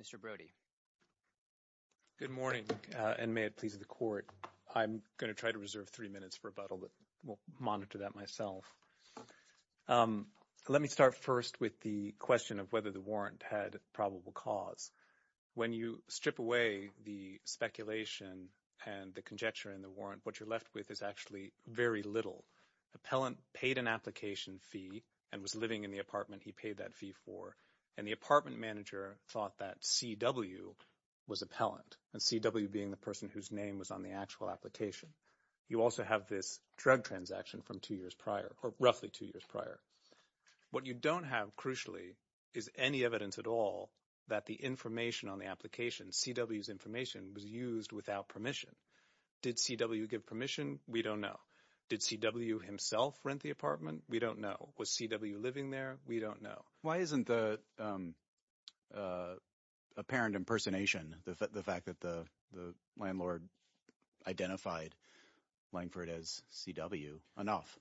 Mr. Brody. Good morning, and may it please the Court. I'm going to try to reserve three minutes for rebuttal, but we'll monitor that myself. Let me start first with the question of whether the warrant had probable cause. When you strip away the speculation and the conjecture in the warrant, what you're left with is actually very little. Appellant paid an application fee and was living in the apartment he paid that fee for, and the apartment manager thought that C.W. was appellant, and C.W. being the person whose name was on the actual application. You also have this drug transaction from two years prior, or roughly two years prior. What you don't have, crucially, is any evidence at all that the information on the application, C.W.'s information, was used without permission. Did C.W. give permission? We don't know. Did C.W. himself rent the apartment? We don't know. Was C.W. living there? We don't know. Why isn't the apparent impersonation, the fact that the landlord identified Langford as C.W., enough?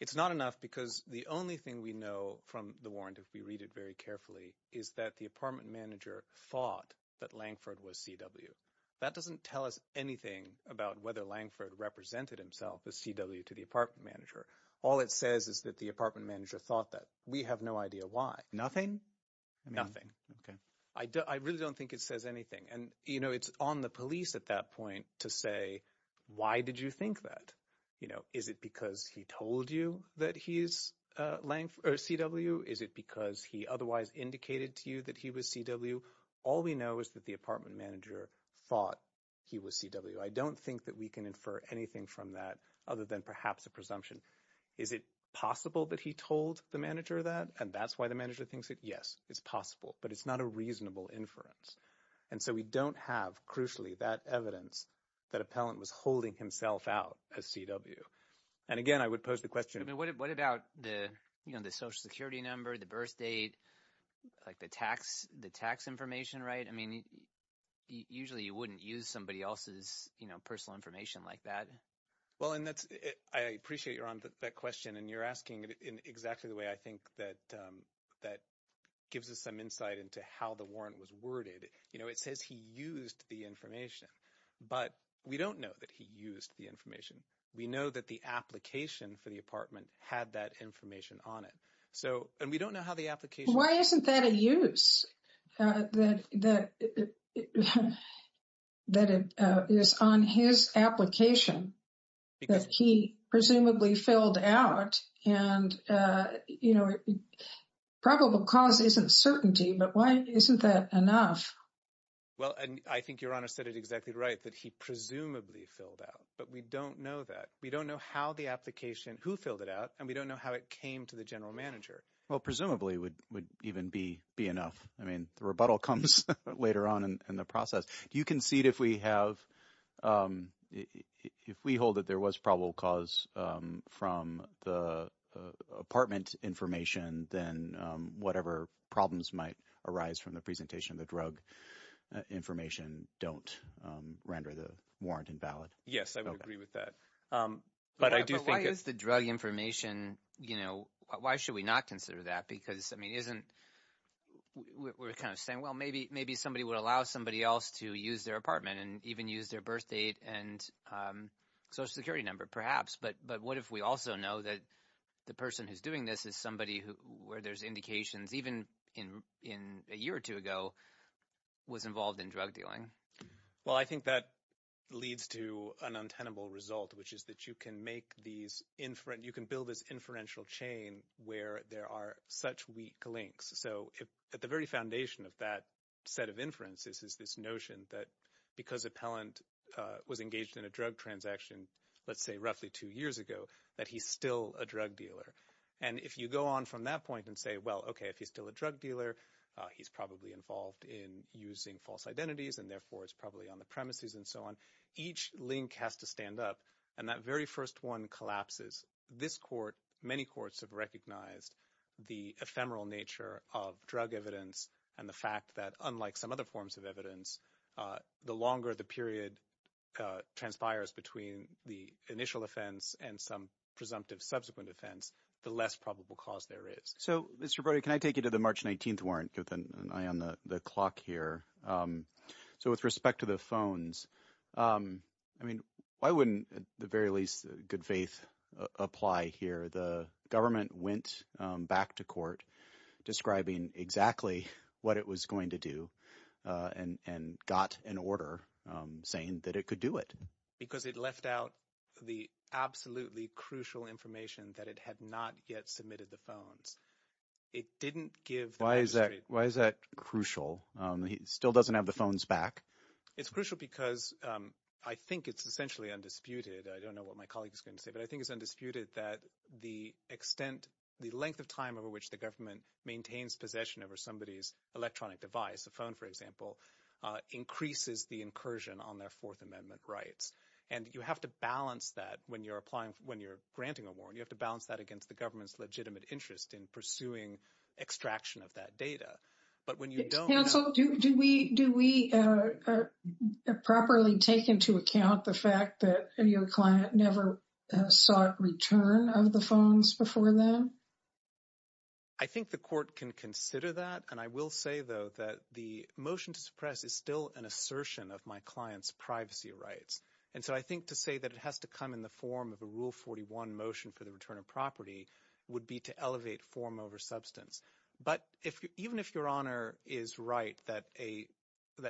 It's not enough because the only thing we know from the warrant, if we read it very carefully, is that the apartment manager thought that Langford was C.W. That doesn't tell us anything about whether Langford represented himself as C.W. to the apartment manager. All it says is that the apartment manager thought that. We have no idea why. Okay. I really don't think it says anything, and it's on the police at that point to say, why did you think that? Is it because he told you that he's C.W.? Is it because he otherwise indicated to you that he was C.W.? All we know is that the apartment manager thought he was C.W. I don't think that we can infer anything from that other than perhaps a presumption. Is it possible that he told the manager that, and that's why the manager thinks it? Yes, it's possible, but it's not a reasonable inference. And so we don't have, crucially, that evidence that Appellant was holding himself out as C.W. And again, I would pose the question— What about the Social Security number, the birth date, like the tax information, right? I mean usually you wouldn't use somebody else's personal information like that. Well, and that's—I appreciate, Ron, that question, and you're asking it in exactly the way I think that gives us some insight into how the warrant was worded. It says he used the information, but we don't know that he used the information. We know that the application for the apartment had that information on it. So—and we don't know how the application— Why isn't that a use? That it is on his application that he presumably filled out and, you know, probable cause isn't certainty, but why isn't that enough? Well, and I think Your Honor said it exactly right, that he presumably filled out, but we don't know that. We don't know how the application—who filled it out, and we don't know how it came to the general manager. Well, presumably would even be enough. I mean the rebuttal comes later on in the process. Do you concede if we have—if we hold that there was probable cause from the apartment information, then whatever problems might arise from the presentation of the drug information don't render the warrant invalid? Yes, I would agree with that. But why is the drug information—why should we not consider that? Because, I mean, isn't—we're kind of saying, well, maybe somebody would allow somebody else to use their apartment and even use their birth date and social security number perhaps. But what if we also know that the person who's doing this is somebody where there's indications even a year or two ago was involved in drug dealing? Well, I think that leads to an untenable result, which is that you can make these—you can build this inferential chain where there are such weak links. So at the very foundation of that set of inferences is this notion that because Appellant was engaged in a drug transaction, let's say roughly two years ago, that he's still a drug dealer. And if you go on from that point and say, well, okay, if he's still a drug dealer, he's probably involved in using false identities and therefore is probably on the premises and so on, each link has to stand up. And that very first one collapses. This court—many courts have recognized the ephemeral nature of drug evidence and the fact that unlike some other forms of evidence, the longer the period transpires between the initial offense and some presumptive subsequent offense, the less probable cause there is. So, Mr. Brody, can I take you to the March 19th warrant with an eye on the clock here? So with respect to the phones, I mean why wouldn't at the very least good faith apply here? The government went back to court describing exactly what it was going to do and got an order saying that it could do it. Because it left out the absolutely crucial information that it had not yet submitted the phones. It didn't give the magistrate— Why is that crucial? It still doesn't have the phones back. It's crucial because I think it's essentially undisputed. I don't know what my colleague is going to say, but I think it's undisputed that the extent—the length of time over which the government maintains possession over somebody's electronic device, a phone for example, increases the incursion on their Fourth Amendment rights. And you have to balance that when you're applying—when you're granting a warrant. You have to balance that against the government's legitimate interest in pursuing extraction of that data. But when you don't— Counsel, do we properly take into account the fact that your client never sought return of the phones before then? I think the court can consider that, and I will say, though, that the motion to suppress is still an assertion of my client's privacy rights. And so I think to say that it has to come in the form of a Rule 41 motion for the return of property would be to elevate form over substance. But even if Your Honor is right that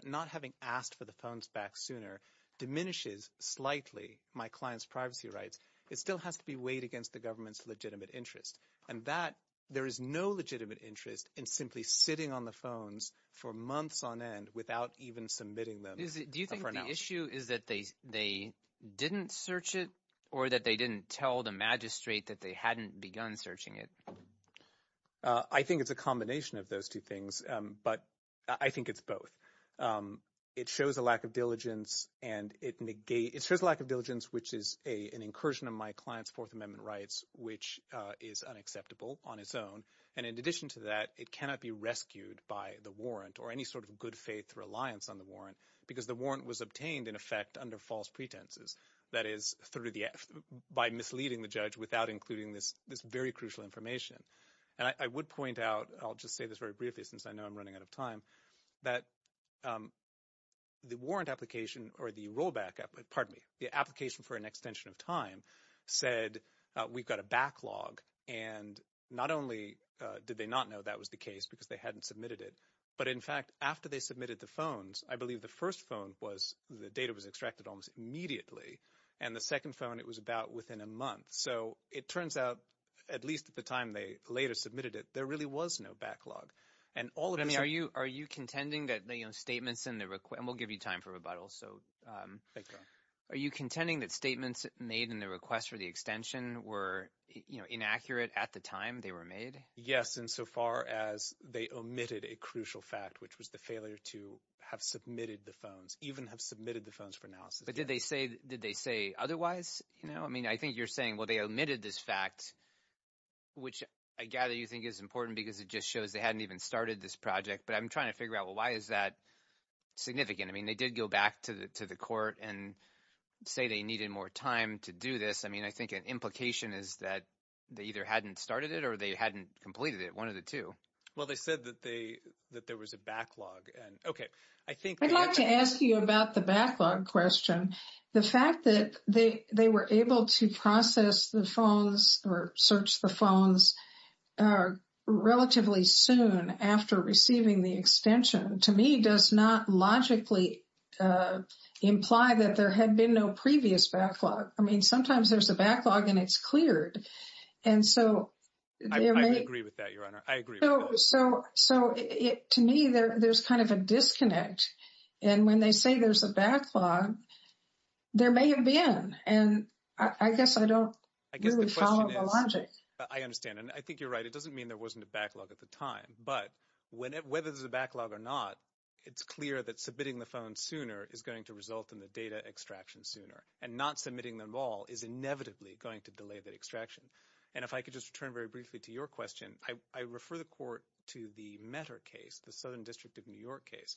not having asked for the phones back sooner diminishes slightly my client's privacy rights, it still has to be weighed against the government's legitimate interest. And that—there is no legitimate interest in simply sitting on the phones for months on end without even submitting them a pronouncement. Do you think the issue is that they didn't search it or that they didn't tell the magistrate that they hadn't begun searching it? I think it's a combination of those two things, but I think it's both. It shows a lack of diligence, and it negates—it shows a lack of diligence, which is an incursion of my client's Fourth Amendment rights, which is unacceptable on its own. And in addition to that, it cannot be rescued by the warrant or any sort of good-faith reliance on the warrant because the warrant was obtained, in effect, under false pretenses. That is, by misleading the judge without including this very crucial information. And I would point out—I'll just say this very briefly since I know I'm running out of time—that the warrant application or the rollback—pardon me, the application for an extension of time said we've got a backlog. And not only did they not know that was the case because they hadn't submitted it, but in fact, after they submitted the phones, I believe the first phone was—the data was extracted almost immediately. And the second phone, it was about within a month. So it turns out, at least at the time they later submitted it, there really was no backlog. And all of this— But, I mean, are you contending that statements in the—and we'll give you time for rebuttal. So are you contending that statements made in the request for the extension were inaccurate at the time they were made? Yes, insofar as they omitted a crucial fact, which was the failure to have submitted the phones, even have submitted the phones for analysis. But did they say otherwise? I mean, I think you're saying, well, they omitted this fact, which I gather you think is important because it just shows they hadn't even started this project. But I'm trying to figure out, well, why is that significant? I mean they did go back to the court and say they needed more time to do this. I mean I think an implication is that they either hadn't started it or they hadn't completed it, one of the two. Well, they said that there was a backlog. I'd like to ask you about the backlog question. The fact that they were able to process the phones or search the phones relatively soon after receiving the extension, to me, does not logically imply that there had been no previous backlog. I mean sometimes there's a backlog and it's cleared. I agree with that, Your Honor. I agree with that. So to me, there's kind of a disconnect. And when they say there's a backlog, there may have been. And I guess I don't really follow the logic. I understand. And I think you're right. It doesn't mean there wasn't a backlog at the time. But whether there's a backlog or not, it's clear that submitting the phone sooner is going to result in the data extraction sooner. And not submitting them all is inevitably going to delay the extraction. And if I could just return very briefly to your question, I refer the court to the Metter case, the Southern District of New York case,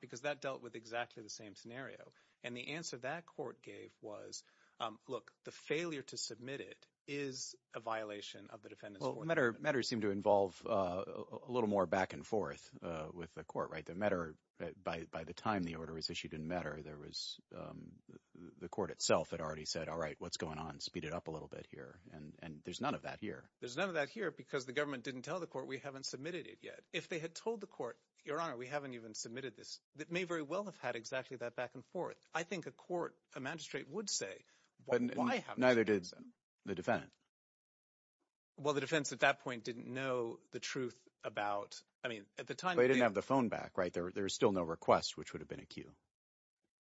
because that dealt with exactly the same scenario. And the answer that court gave was, look, the failure to submit it is a violation of the defendant's order. Well, Metter seemed to involve a little more back and forth with the court, right? By the time the order was issued in Metter, there was – the court itself had already said, all right, what's going on, speed it up a little bit here. And there's none of that here. There's none of that here because the government didn't tell the court we haven't submitted it yet. If they had told the court, Your Honor, we haven't even submitted this, it may very well have had exactly that back and forth. I think a court, a magistrate would say, why haven't you submitted it? Neither did the defendant. Well, the defense at that point didn't know the truth about – I mean at the time – Well, they didn't have the phone back, right? There was still no request, which would have been a cue.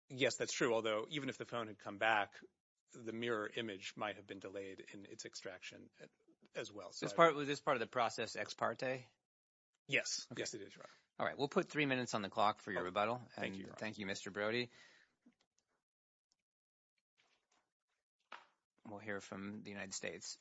Yes, that's true, although even if the phone had come back, the mirror image might have been delayed in its extraction as well. Is this part of the process ex parte? Yes. Yes, it is, Your Honor. All right. We'll put three minutes on the clock for your rebuttal. Thank you, Your Honor. Thank you, Mr. Brody. We'll hear from the United States.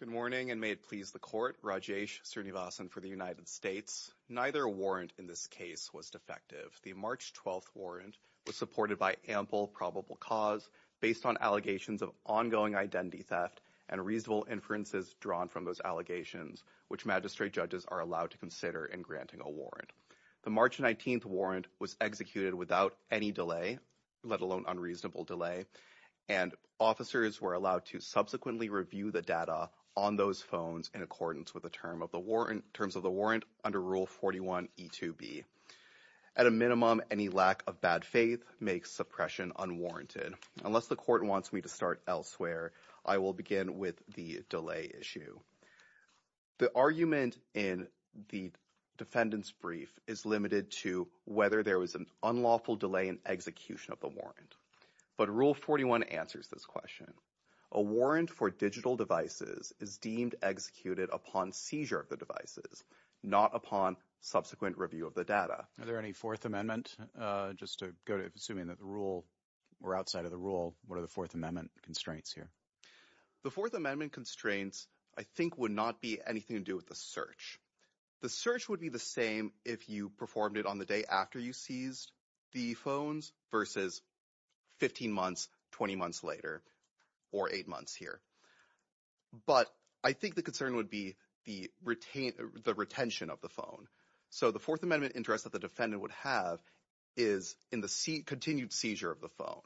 Good morning, and may it please the court. Rajesh Srinivasan for the United States. Neither warrant in this case was defective. The March 12th warrant was supported by ample probable cause based on allegations of ongoing identity theft and reasonable inferences drawn from those allegations, which magistrate judges are allowed to consider in granting a warrant. The March 19th warrant was executed without any delay, let alone unreasonable delay, and officers were allowed to subsequently review the data on those phones in accordance with the terms of the warrant under Rule 41e2b. At a minimum, any lack of bad faith makes suppression unwarranted. Unless the court wants me to start elsewhere, I will begin with the delay issue. The argument in the defendant's brief is limited to whether there was an unlawful delay in execution of the warrant. But Rule 41 answers this question. A warrant for digital devices is deemed executed upon seizure of the devices, not upon subsequent review of the data. Are there any Fourth Amendment, just to go to assuming that the rule were outside of the rule, what are the Fourth Amendment constraints here? The Fourth Amendment constraints, I think, would not be anything to do with the search. The search would be the same if you performed it on the day after you seized the phones versus 15 months, 20 months later, or eight months here. But I think the concern would be the retention of the phone. So the Fourth Amendment interest that the defendant would have is in the continued seizure of the phone.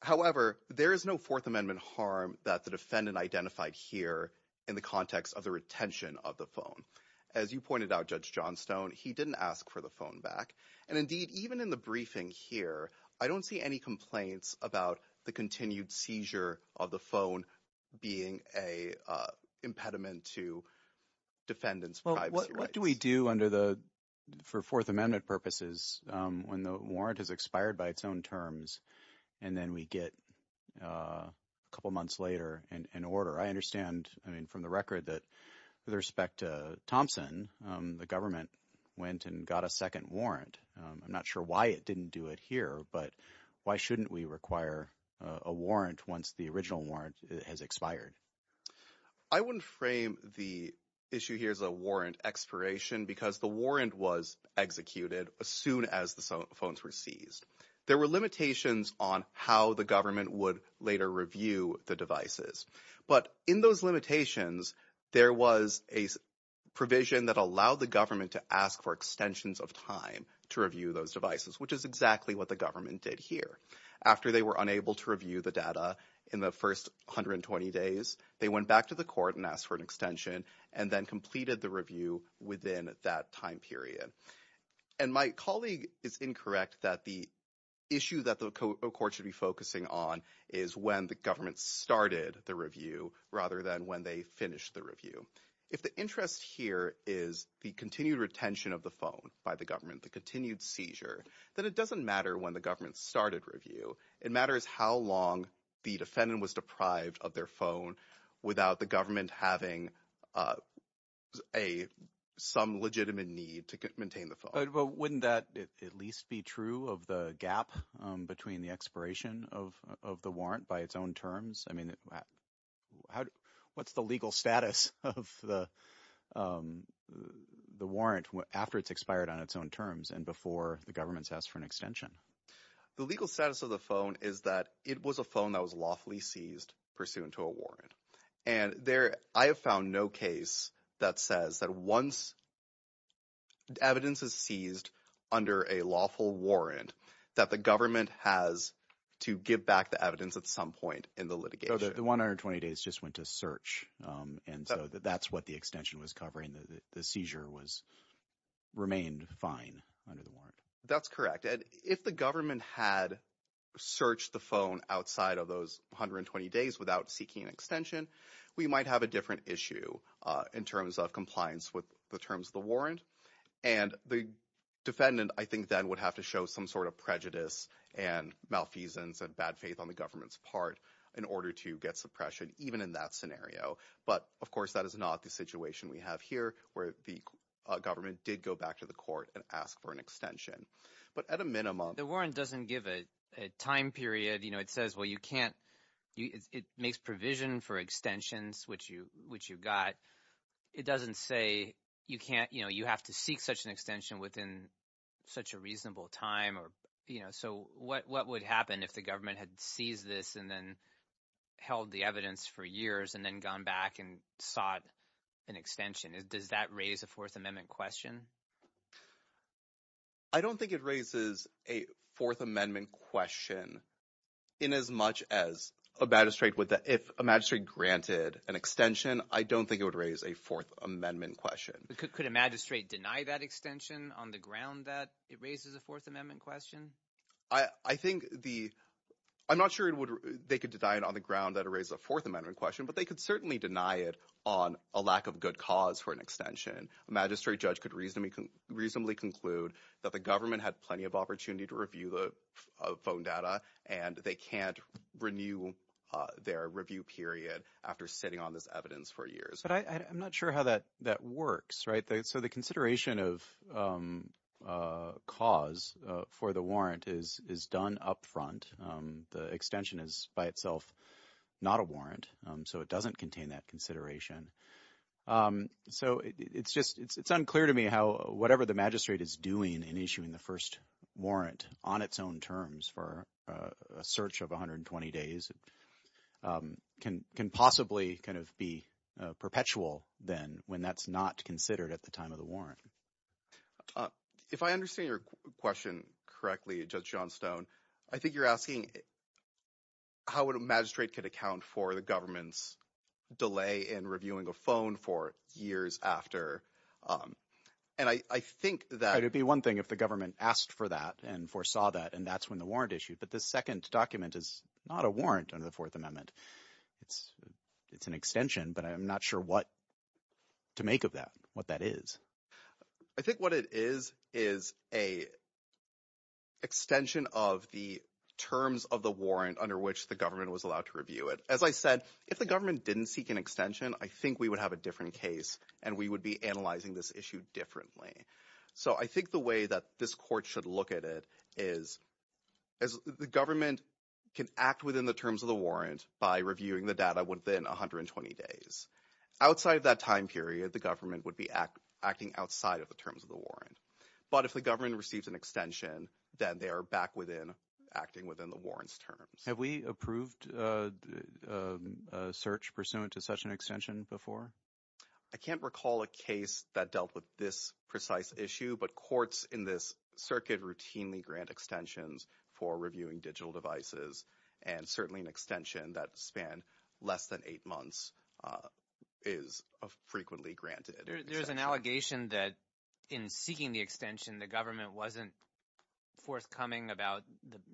However, there is no Fourth Amendment harm that the defendant identified here in the context of the retention of the phone. As you pointed out, Judge Johnstone, he didn't ask for the phone back. And indeed, even in the briefing here, I don't see any complaints about the continued seizure of the phone being an impediment to defendant's privacy rights. What do we do under the – for Fourth Amendment purposes when the warrant has expired by its own terms and then we get a couple months later an order? I understand – I mean from the record that with respect to Thompson, the government went and got a second warrant. I'm not sure why it didn't do it here, but why shouldn't we require a warrant once the original warrant has expired? I wouldn't frame the issue here as a warrant expiration because the warrant was executed as soon as the phones were seized. There were limitations on how the government would later review the devices. But in those limitations, there was a provision that allowed the government to ask for extensions of time to review those devices, which is exactly what the government did here. After they were unable to review the data in the first 120 days, they went back to the court and asked for an extension and then completed the review within that time period. And my colleague is incorrect that the issue that the court should be focusing on is when the government started the review rather than when they finished the review. If the interest here is the continued retention of the phone by the government, the continued seizure, then it doesn't matter when the government started review. It matters how long the defendant was deprived of their phone without the government having a – some legitimate need to maintain the phone. But wouldn't that at least be true of the gap between the expiration of the warrant by its own terms? I mean what's the legal status of the warrant after it's expired on its own terms and before the government has asked for an extension? The legal status of the phone is that it was a phone that was lawfully seized pursuant to a warrant. And there – I have found no case that says that once evidence is seized under a lawful warrant that the government has to give back the evidence at some point in the litigation. So the 120 days just went to search and so that's what the extension was covering. The seizure was – remained fine under the warrant. That's correct. And if the government had searched the phone outside of those 120 days without seeking an extension, we might have a different issue in terms of compliance with the terms of the warrant. And the defendant I think then would have to show some sort of prejudice and malfeasance and bad faith on the government's part in order to get suppression even in that scenario. But, of course, that is not the situation we have here where the government did go back to the court and ask for an extension. But at a minimum – The warrant doesn't give a time period. It says, well, you can't – it makes provision for extensions, which you got. It doesn't say you can't – you have to seek such an extension within such a reasonable time. So what would happen if the government had seized this and then held the evidence for years and then gone back and sought an extension? Does that raise a Fourth Amendment question? I don't think it raises a Fourth Amendment question in as much as a magistrate would – if a magistrate granted an extension, I don't think it would raise a Fourth Amendment question. Could a magistrate deny that extension on the ground that it raises a Fourth Amendment question? I think the – I'm not sure they could deny it on the ground that it raises a Fourth Amendment question, but they could certainly deny it on a lack of good cause for an extension. A magistrate judge could reasonably conclude that the government had plenty of opportunity to review the phone data, and they can't renew their review period after sitting on this evidence for years. But I'm not sure how that works, right? So the consideration of cause for the warrant is done up front. The extension is by itself not a warrant, so it doesn't contain that consideration. So it's just – it's unclear to me how whatever the magistrate is doing in issuing the first warrant on its own terms for a search of 120 days can possibly kind of be perpetual then when that's not considered at the time of the warrant. If I understand your question correctly, Judge Johnstone, I think you're asking how a magistrate could account for the government's delay in reviewing a phone for years after. And I think that – It would be one thing if the government asked for that and foresaw that, and that's when the warrant issued. But this second document is not a warrant under the Fourth Amendment. It's an extension, but I'm not sure what to make of that, what that is. I think what it is is an extension of the terms of the warrant under which the government was allowed to review it. As I said, if the government didn't seek an extension, I think we would have a different case and we would be analyzing this issue differently. So I think the way that this court should look at it is the government can act within the terms of the warrant by reviewing the data within 120 days. Outside of that time period, the government would be acting outside of the terms of the warrant. But if the government receives an extension, then they are back within – acting within the warrant's terms. Have we approved a search pursuant to such an extension before? I can't recall a case that dealt with this precise issue, but courts in this circuit routinely grant extensions for reviewing digital devices. And certainly an extension that span less than eight months is frequently granted. There's an allegation that in seeking the extension, the government wasn't forthcoming about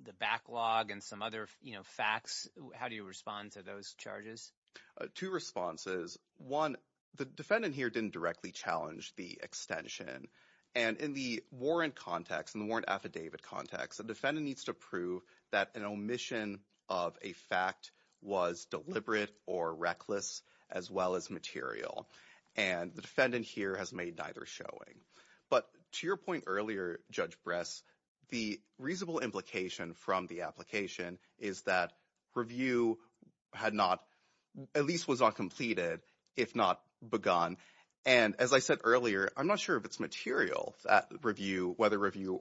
the backlog and some other facts. How do you respond to those charges? Two responses. One, the defendant here didn't directly challenge the extension. And in the warrant context, in the warrant affidavit context, the defendant needs to prove that an omission of a fact was deliberate or reckless as well as material. And the defendant here has made neither showing. But to your point earlier, Judge Bress, the reasonable implication from the application is that review had not – at least was not completed if not begun. And as I said earlier, I'm not sure if it's material, that review, whether review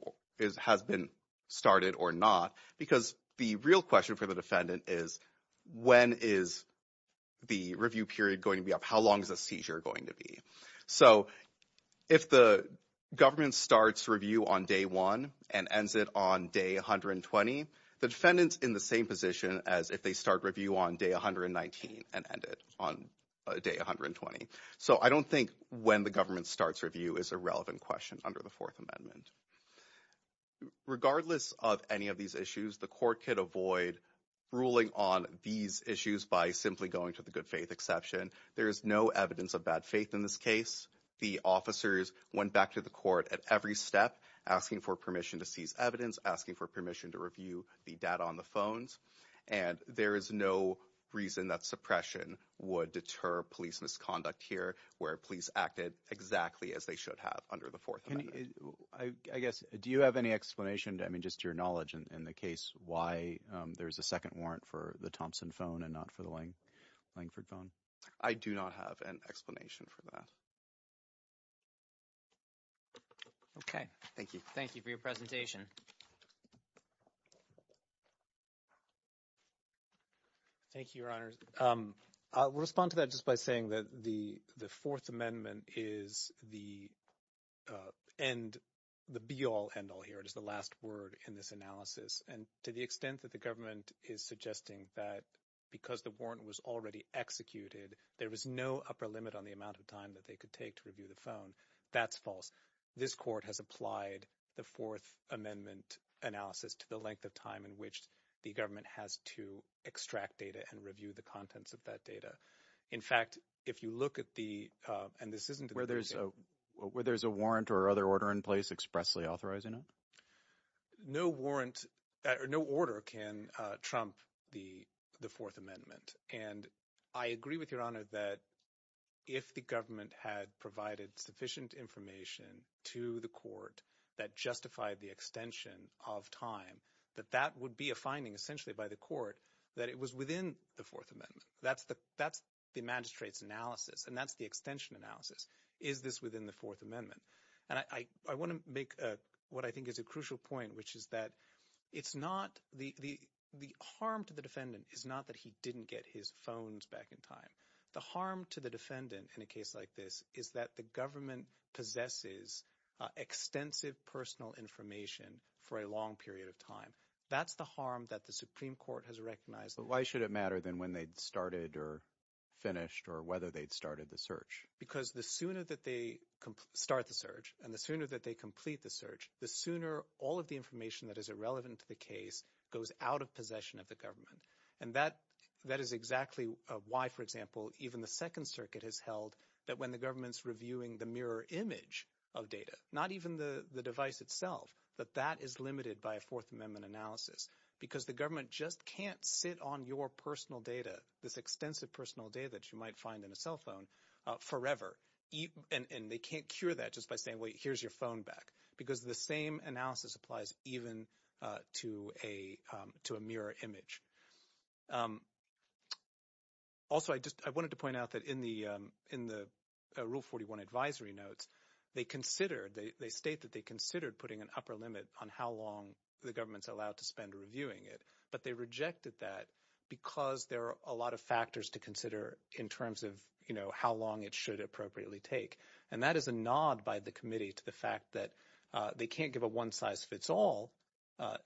has been started or not. Because the real question for the defendant is when is the review period going to be up? How long is the seizure going to be? So if the government starts review on day one and ends it on day 120, the defendant's in the same position as if they start review on day 119 and end it on day 120. So I don't think when the government starts review is a relevant question under the Fourth Amendment. Regardless of any of these issues, the court could avoid ruling on these issues by simply going to the good faith exception. There is no evidence of bad faith in this case. The officers went back to the court at every step asking for permission to seize evidence, asking for permission to review the data on the phones. And there is no reason that suppression would deter police misconduct here where police acted exactly as they should have under the Fourth Amendment. I guess do you have any explanation? I mean, just your knowledge in the case why there is a second warrant for the Thompson phone and not for the Langford phone? I do not have an explanation for that. Okay. Thank you. Thank you for your presentation. Thank you, Your Honors. I will respond to that just by saying that the Fourth Amendment is the be-all, end-all here. It is the last word in this analysis. And to the extent that the government is suggesting that because the warrant was already executed, there was no upper limit on the amount of time that they could take to review the phone, that's false. This court has applied the Fourth Amendment analysis to the length of time in which the government has to extract data and review the contents of that data. In fact, if you look at the – and this isn't – Where there's a warrant or other order in place expressly authorizing it? No warrant – no order can trump the Fourth Amendment. And I agree with Your Honor that if the government had provided sufficient information to the court that justified the extension of time, that that would be a finding essentially by the court that it was within the Fourth Amendment. That's the magistrate's analysis, and that's the extension analysis. Is this within the Fourth Amendment? And I want to make what I think is a crucial point, which is that it's not – the harm to the defendant is not that he didn't get his phones back in time. The harm to the defendant in a case like this is that the government possesses extensive personal information for a long period of time. That's the harm that the Supreme Court has recognized. But why should it matter then when they'd started or finished or whether they'd started the search? Because the sooner that they start the search and the sooner that they complete the search, the sooner all of the information that is irrelevant to the case goes out of possession of the government. And that is exactly why, for example, even the Second Circuit has held that when the government is reviewing the mirror image of data, not even the device itself, that that is limited by a Fourth Amendment analysis because the government just can't sit on your personal data, this extensive personal data that you might find in a cell phone, forever. And they can't cure that just by saying, wait, here's your phone back because the same analysis applies even to a mirror image. Also, I just – I wanted to point out that in the Rule 41 advisory notes, they considered – they state that they considered putting an upper limit on how long the government is allowed to spend reviewing it. But they rejected that because there are a lot of factors to consider in terms of how long it should appropriately take. And that is a nod by the committee to the fact that they can't give a one-size-fits-all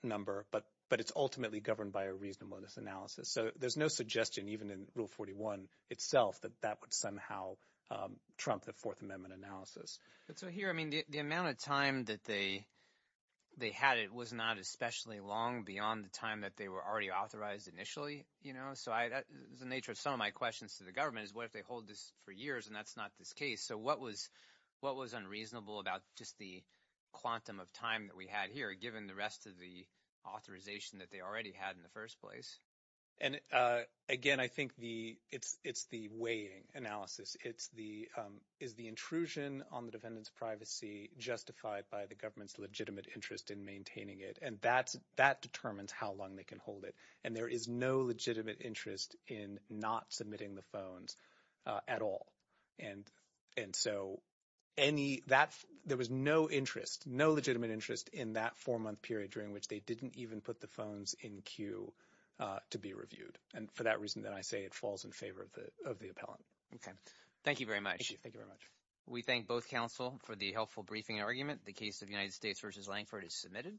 number, but it's ultimately governed by a reasonableness analysis. So there's no suggestion even in Rule 41 itself that that would somehow trump the Fourth Amendment analysis. So here, I mean the amount of time that they had, it was not especially long beyond the time that they were already authorized initially. So the nature of some of my questions to the government is what if they hold this for years and that's not this case? So what was unreasonable about just the quantum of time that we had here given the rest of the authorization that they already had in the first place? And again, I think the – it's the weighing analysis. It's the – is the intrusion on the defendant's privacy justified by the government's legitimate interest in maintaining it? And that determines how long they can hold it. And there is no legitimate interest in not submitting the phones at all. And so any – that – there was no interest, no legitimate interest in that four-month period during which they didn't even put the phones in queue to be reviewed. And for that reason, then I say it falls in favor of the appellant. Okay. Thank you very much. Thank you. Thank you very much. We thank both counsel for the helpful briefing argument. The case of United States v. Lankford is submitted.